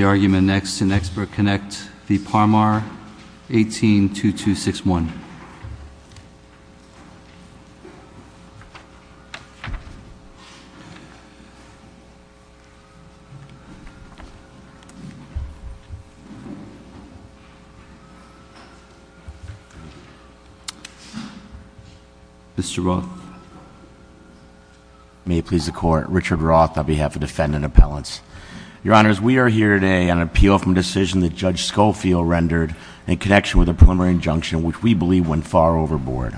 The argument next in ExpertConnect, the Parmar 18-2261 Mr. Roth May it please the Court, Richard Roth on behalf of Defendant Appellants. Your Honors, we are here today on an appeal from a decision that Judge Schofield rendered in connection with a preliminary injunction, which we believe went far overboard.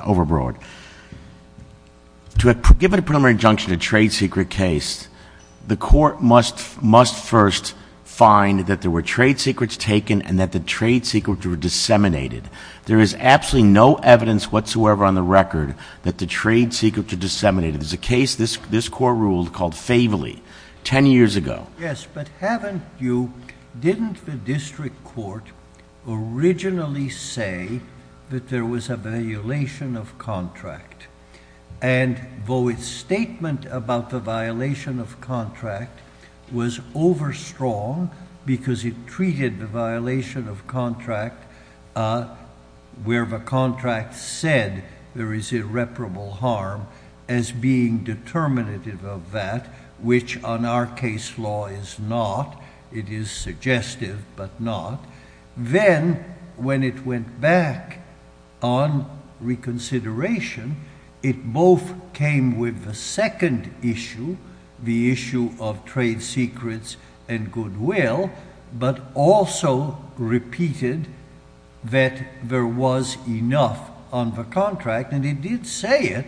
To have given a preliminary injunction to a trade secret case, the Court must first find that there were trade secrets taken and that the trade secrets were disseminated. There is absolutely no evidence whatsoever on the record that the trade secrets are disseminated. There is a case, this Court ruled, called Faveli, ten years ago. Yes, but haven't you, didn't the District Court originally say that there was a violation of contract? And though its statement about the violation of contract was over strong because it treated the violation of contract where the contract said there is irreparable harm as being determinative of that, which on our case law is not. It is suggestive, but not. Then when it went back on reconsideration, it both came with the second issue, the issue of trade secrets and goodwill, but also repeated that there was enough on the contract and it did say it,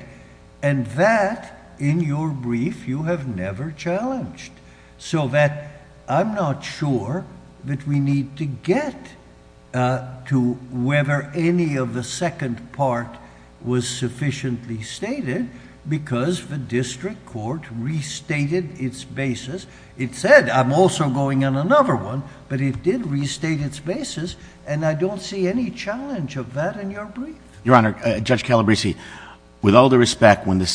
and that, in your brief, you have never challenged. So that I'm not sure that we need to get to whether any of the second part was sufficiently stated because the District Court restated its basis. It said, I'm also going on another one, but it did restate its basis, and I don't see any challenge of that in your brief. Your Honor, Judge Calabresi, with all due respect, when the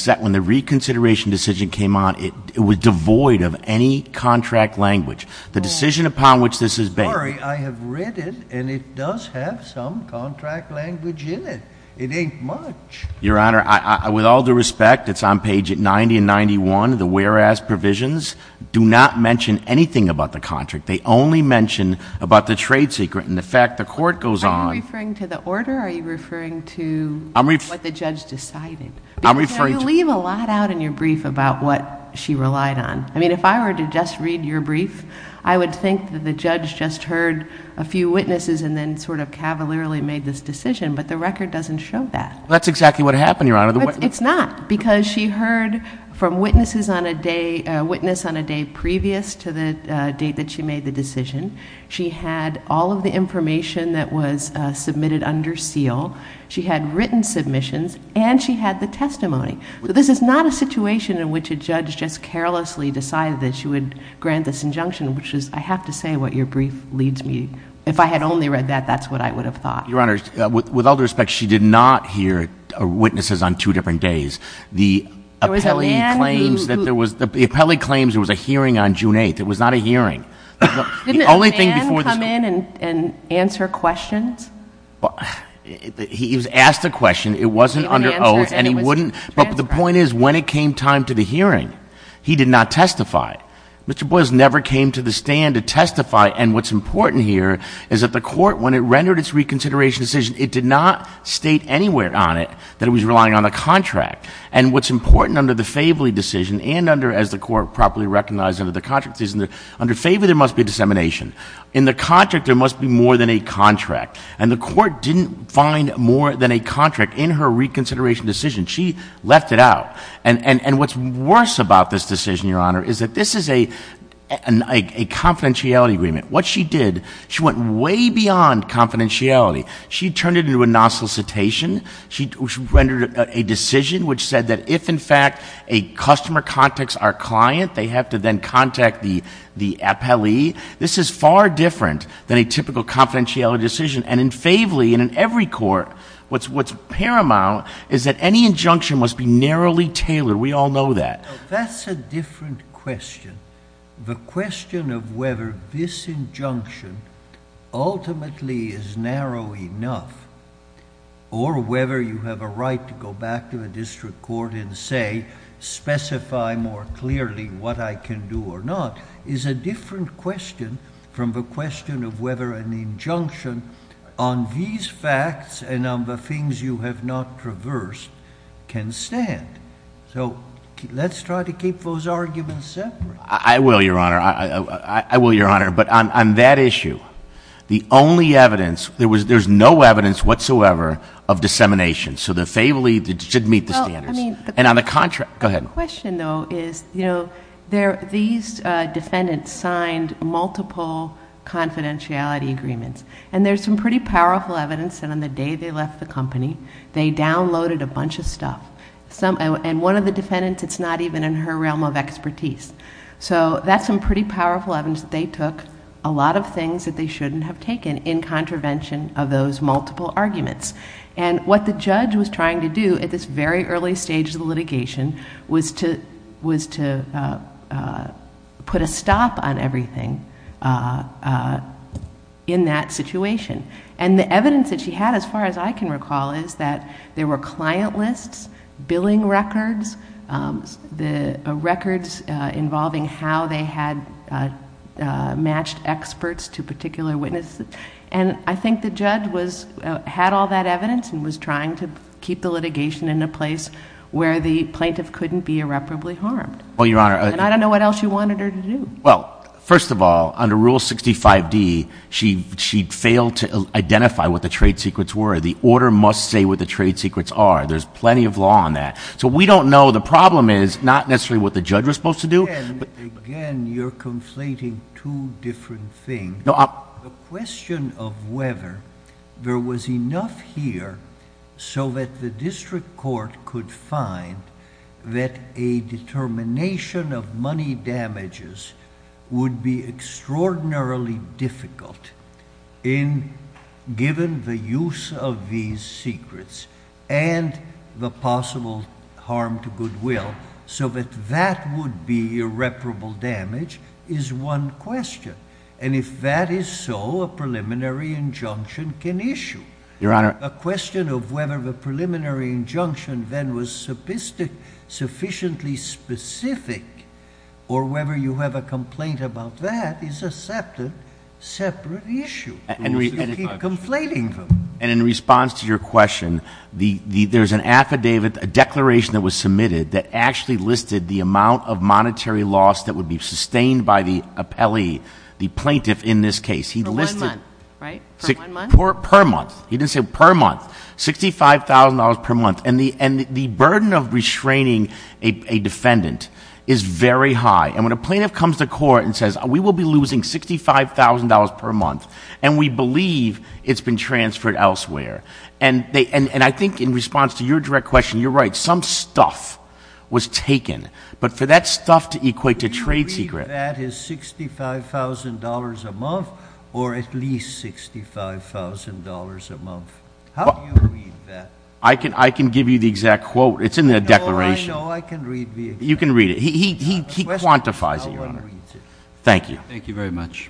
reconsideration decision came on, it was devoid of any contract language. The decision upon which this is based I'm sorry, I have read it, and it does have some contract language in it. It ain't much. Your Honor, with all due respect, it's on page 90 and 91, the whereas provisions do not mention anything about the contract. They only mention about the trade secret, and the fact the court goes on. Are you referring to the order? Are you referring to what the judge decided? Because you leave a lot out in your brief about what she relied on. I mean, if I were to just read your brief, I would think that the judge just heard a few witnesses and then sort of cavalierly made this decision, but the record doesn't show that. That's exactly what happened, Your Honor. It's not, because she heard from witnesses on a day, a witness on a day previous to the date that she made the decision. She had all of the information that was submitted under seal. She had written submissions, and she had the testimony. This is not a situation in which a judge just carelessly decided that she would grant this injunction, which is, I have to say, what your brief leads me. If I had only read that, that's what I would have thought. Your Honor, with all due respect, she did not hear witnesses on two different days. The appellee claims there was a hearing on June 8th. It was not a hearing. Didn't a man come in and answer questions? He was asked a question. It wasn't under oath, and it wouldn't, but the point is, when it came time to the hearing, he did not testify. Mr. Boyles never came to the stand to testify, and what's important here is that the court, when it rendered its reconsideration decision, it did not state anywhere on it that it was relying on a contract, and what's important under the Favoli decision and under, as the court properly recognized under the contract decision, under Favoli, there must be a dissemination. In the contract, there must be more than a contract, and the court didn't find more than a contract in her reconsideration decision. She left it out, and what's worse about this decision, Your Honor, is that this is a confidentiality agreement. What she did, she went way beyond confidentiality. She turned it into a non-solicitation. She rendered a decision which said that if, in fact, a customer contacts our client, they have to then contact the appellee. This is far different than a typical confidentiality decision, and in Favoli and in every court, what's paramount is that any injunction must be narrowly tailored. We all know that. That's a different question. The question of whether this injunction ultimately is narrow enough or whether you have a right to go back to a district court and say, specify more clearly what I can do or not, is a different question from the question of whether an injunction on these facts and on the things you have not traversed can stand. Let's try to keep those arguments separate. I will, Your Honor. I will, Your Honor, but on that issue, the only evidence... there's no evidence whatsoever of dissemination, so the Favoli did meet the standards, and on the contract... The question, though, is these defendants signed multiple confidentiality agreements, and there's some pretty powerful evidence that on the day they left the company, they took a lot of things that they shouldn't have taken in contravention of those multiple arguments, and what the judge was trying to do at this very early stage of the litigation was to put a stop on everything in that situation, and the evidence that she had, as far as I can recall, is that there were client lists, billing records, records involving health and how they had matched experts to particular witnesses, and I think the judge had all that evidence and was trying to keep the litigation in a place where the plaintiff couldn't be irreparably harmed, and I don't know what else she wanted her to do. Well, first of all, under Rule 65D, she failed to identify what the trade secrets were. The order must say what the trade secrets are. There's plenty of law on that, so we don't know. The problem is not necessarily what the judge was supposed to do, but... Again, you're conflating two different things. The question of whether there was enough here so that the district court could find that a determination of money damages would be extraordinarily difficult given the use of these secrets and the possible harm to the goodwill, so that that would be irreparable damage is one question, and if that is so, a preliminary injunction can issue. Your Honor... A question of whether the preliminary injunction then was sufficiently specific or whether you have a complaint about that is a separate issue. You keep conflating them. In response to your question, there's an affidavit, a declaration that was submitted that actually listed the amount of monetary loss that would be sustained by the appellee, the plaintiff in this case. For one month, right? For one month? Per month. He didn't say per month. $65,000 per month. The burden of restraining a defendant is very high, and when a plaintiff comes to court and says, we will be losing $65,000 per month, and we believe it's been transferred elsewhere, and I think in response to your direct question, you're right. Some stuff was taken, but for that stuff to equate to trade secret... Do you read that as $65,000 a month or at least $65,000 a month? How do you read that? I can give you the exact quote. It's in the declaration. No, I know. I can read the exact quote. You can read it. He quantifies it, Your Honor. Thank you. Thank you very much.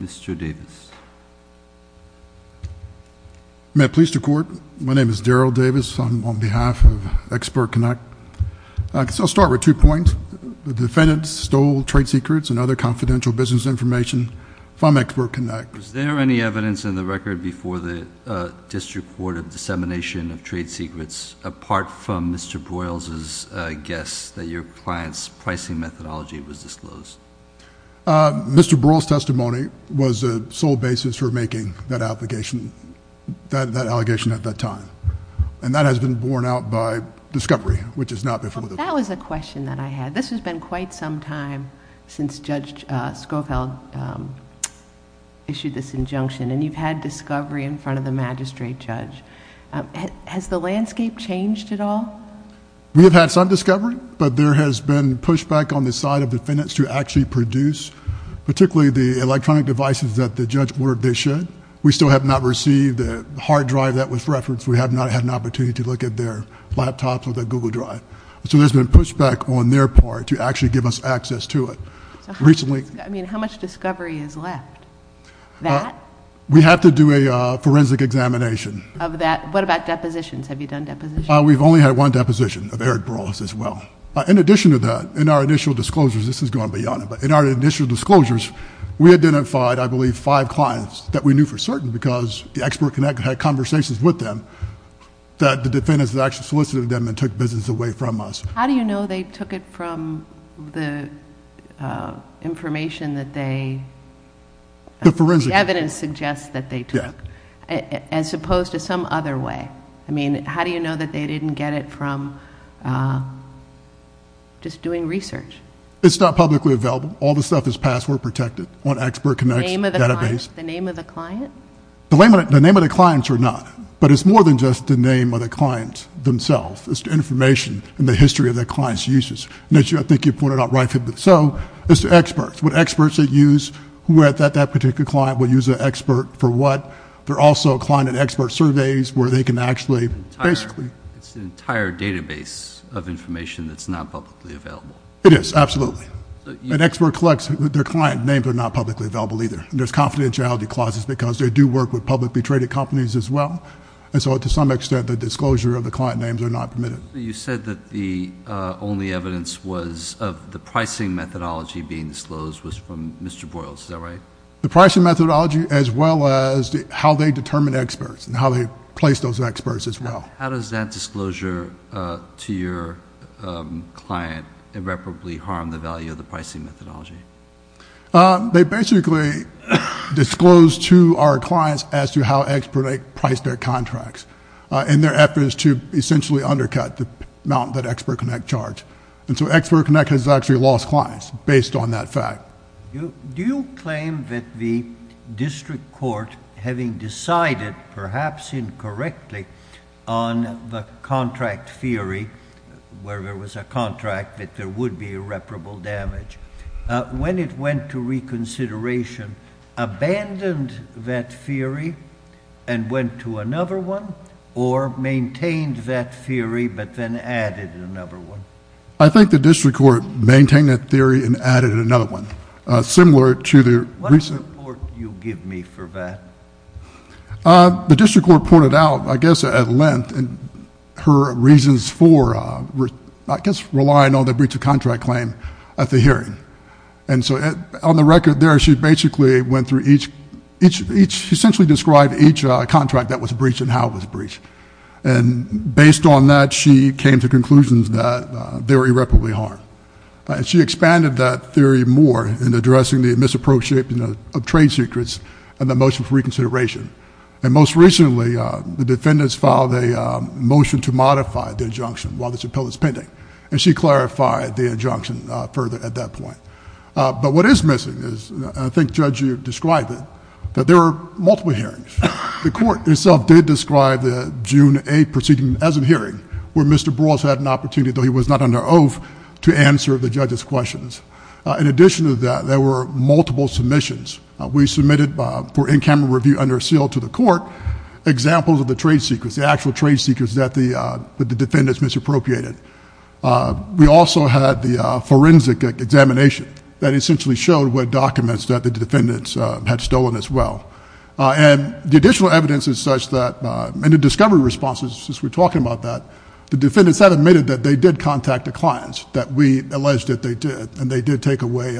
Mr. Davis. May I please to court? My name is Daryl Davis. I'm on behalf of Expert Connect. I'll start with two points. The defendant stole trade secrets and other confidential business information from Expert Connect. Was there any evidence in the record before the district court of dissemination of trade secrets and other confidential business information was disclosed? Mr. Brewer's testimony was the sole basis for making that allegation at that time. That has been borne out by discovery, which is not before the court. That was a question that I had. This has been quite some time since Judge Schofield issued this injunction, and you've had discovery in front of the magistrate judge. Has the landscape changed at all? We have had some discovery, but there has been pushback on the side of defendants to actually produce, particularly the electronic devices that the judge ordered they should. We still have not received the hard drive that was referenced. We have not had an opportunity to look at their laptops or their Google Drive. There's been pushback on their part to actually give us access to it. How much discovery is left? That? We have to do a forensic examination. What about depositions? Have you done depositions? We've only had one deposition of Eric Burles as well. In addition to that, in our initial disclosures... this is going beyond it, but in our initial disclosures, we identified, I believe, five clients that we knew for certain because the expert had conversations with them that the defendants had actually solicited them and took business away from us. How do you know they took it from the information that they... The forensic... The evidence suggests that they took, as opposed to some other way? How do you know that they didn't get it from just doing research? It's not publicly available. All the stuff is password protected on Expert Connect's database. The name of the client? The name of the clients are not, but it's more than just the name of the client themselves. It's the information and the history of the client's uses. I think you pointed out right there. It's the experts, what experts they use, who at that particular client will use an expert for what. There are also client and expert surveys where they can actually... It's an entire database of information that's not publicly available. It is, absolutely. An expert collects... their client names are not publicly available either. There's confidentiality clauses because they do work with publicly traded companies as well. To some extent, the disclosure of the client names are not permitted. You said that the only evidence was of the pricing methodology being disclosed was from Mr. Broyles. Is that right? The pricing methodology as well as how they determine experts and how they place those experts as well. How does that disclosure to your client irreparably harm the value of the pricing methodology? They basically disclose to our clients as to how expert priced their contracts in their efforts to essentially undercut the amount that Expert Connect charged. Expert Connect has actually lost clients based on that fact. Do you claim that the district court having decided perhaps incorrectly on the contract theory where there was a contract that there would be irreparable damage, when it went to reconsideration, abandoned that theory and went to another one or maintained that theory but then added another one? I think the district court maintained that theory and added another one. Similar to the... What report do you give me for that? The district court pointed out, I guess at length, her reasons for, I guess, relying on the breach of contract claim at the hearing. On the record there, she basically went through each... she essentially described each contract that was breached and how it was breached. Based on that, she came to conclusions that they were irreparably harmed. She expanded that theory more in addressing the misappropriation of trade secrets and the motion for reconsideration. Most recently, the defendants filed a motion to modify the injunction while this appeal is pending. She clarified the injunction further at that point. What is missing is, and I think Judge, you described it, that there were multiple hearings. The court itself did describe the June 8th proceeding as a hearing where Mr. Bross had an opportunity, though he was not under oath, to answer the judge's questions. In addition to that, there were multiple submissions. We submitted for in-camera review under seal to the court, examples of the trade secrets, the actual trade secrets that the defendants misappropriated. We also had the forensic examination that essentially showed what documents that the defendants had stolen as well. The additional evidence is such that in the discovery responses, since we were talking about that, the defendants had admitted that they did contact the clients, that we alleged that they did, and they did take away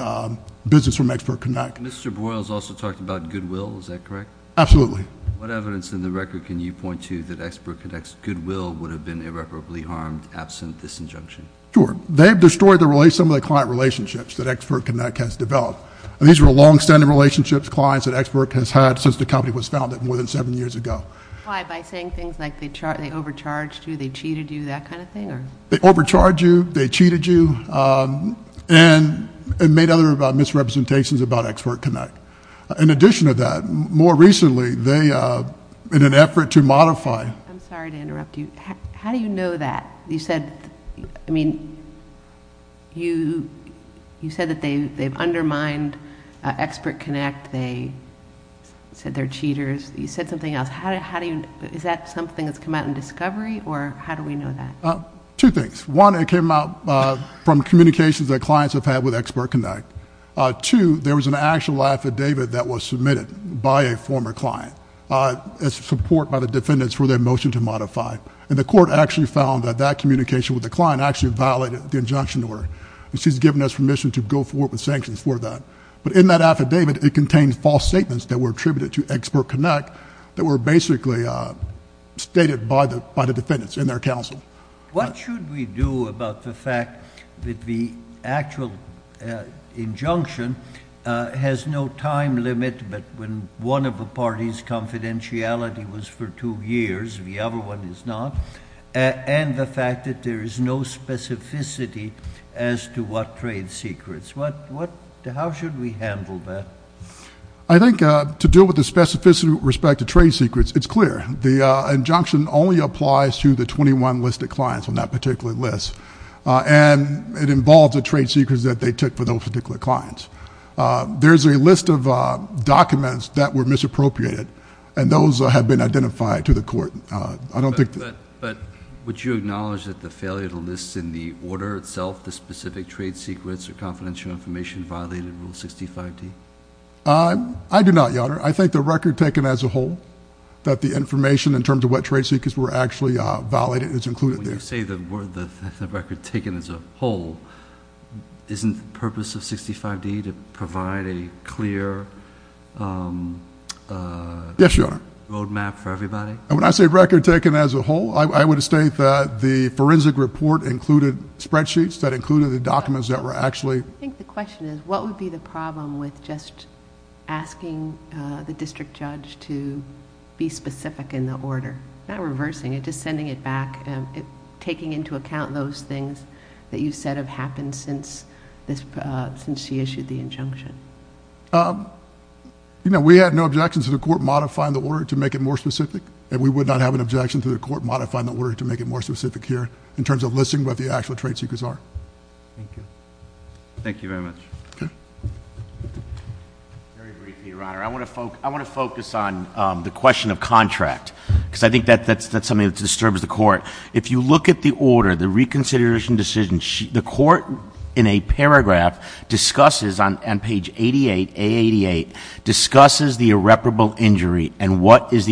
business from Expert Connect. Mr. Broyles also talked about goodwill. Is that correct? Absolutely. What evidence in the record can you point to that Expert Connect's goodwill would have been irreparably harmed absent this injunction? Sure. They have destroyed some of the client relationships that Expert Connect has developed. These were longstanding relationships, clients that Expert has had since the company was founded more than seven years ago. Why? By saying things like they overcharged you, they cheated you, that kind of thing? They overcharged you, they cheated you, and made other misrepresentations about Expert Connect. In addition to that, more recently, in an effort to modify... I'm sorry to interrupt you. How do you know that? You said that they've undermined Expert Connect. They said they're cheaters. You said something else. Is that something that's come out in discovery, or how do we know that? Two things. One, it came out from communications that clients have had with Expert Connect. Two, there was an actual affidavit that was submitted by a former client, as support by the defendants for their motion to modify. The court actually found that that communication with the client actually violated the injunction order. She's given us permission to go forward with sanctions for that. But in that affidavit, it contains false statements that were attributed to Expert Connect that were basically stated by the defendants in their counsel. What should we do about the fact that the actual injunction has no time limit, but when one of the parties' confidentiality was for two years, the other one is not, and the fact that there is no specificity as to what the trade secrets... How should we handle that? I think to deal with the specificity with respect to trade secrets, it's clear. The injunction only applies to the twenty-one listed clients on that particular list, and it involves the trade secrets that they took for those particular clients. There's a list of documents that were misappropriated, and those have been identified to the court. But would you acknowledge that the failure to list in the order itself the specific trade secrets or confidential information violated Rule 65D? I do not, Your Honor. I think the record taken as a whole, that the information in terms of what trade secrets were actually violated is included there. When you say the record taken as a whole, isn't the purpose of 65D to provide a clear... Yes, Your Honor.... roadmap for everybody? When I say record taken as a whole, I would state that the forensic report included spreadsheets that included the documents that were actually... I think the question is, what would be the problem with just asking the district judge to be specific in the order, not reversing it, just sending it back, taking into account those things that you said have happened since she issued the injunction? We had no objections to the court modifying the order to make it more specific, and we would not have an objection to the court modifying the order in terms of listing what the actual trade secrets are. Thank you. Thank you very much. Okay. Very briefly, Your Honor, I want to focus on the question of contract because I think that's something that disturbs the court. If you look at the order, the reconsideration decision, the court in a paragraph discusses on page 88, A88, discusses the irreparable injury and what is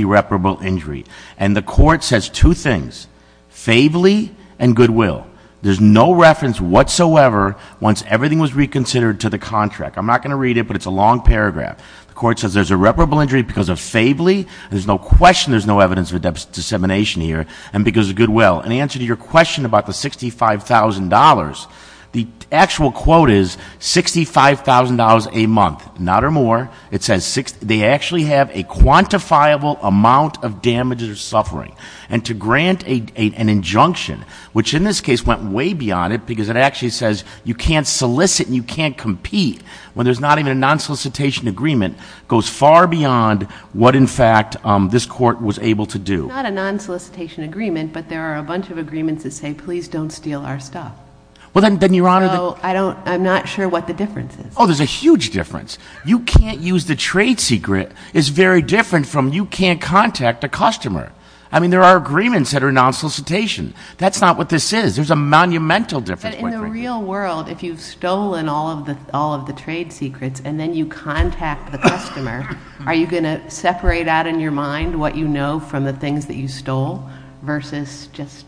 favely and goodwill. There's no reference whatsoever once everything was reconsidered to the contract. I'm not going to read it, but it's a long paragraph. The court says there's irreparable injury because of favely. There's no question there's no evidence of a dissemination here and because of goodwill. In answer to your question about the $65,000, the actual quote is $65,000 a month, not or more. It says they actually have a quantifiable amount of damages or suffering and to grant an injunction, which in this case went way beyond it because it actually says you can't solicit and you can't compete when there's not even a non-solicitation agreement, goes far beyond what, in fact, this court was able to do. It's not a non-solicitation agreement, but there are a bunch of agreements that say, please don't steal our stuff. Well, then, Your Honor, then... So I don't... I'm not sure what the difference is. Oh, there's a huge difference. You can't use the trade secret is very different from you can't contact a customer. I mean, there are agreements that are non-solicitation. That's not what this is. There's a monumental difference. But in the real world, if you've stolen all of the trade secrets and then you contact the customer, are you going to separate out in your mind what you know from the things that you stole versus just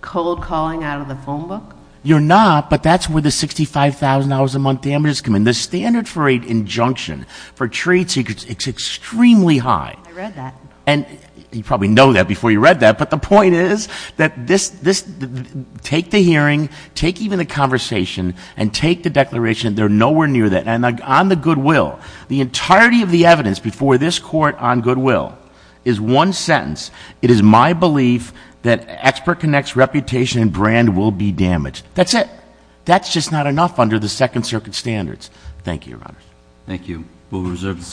cold calling out of the phone book? You're not, but that's where the $65,000 a month damages come in. The standard for an injunction for trade secrets is extremely high. I read that. And you probably know that before you read that, but the point is that take the hearing, take even the conversation, and take the declaration. They're nowhere near that. And on the goodwill, the entirety of the evidence before this court on goodwill is one sentence. It is my belief that Expert Connect's reputation and brand will be damaged. That's it. That's just not enough under the Thank you, Your Honors. Thank you. We'll reserve the decision.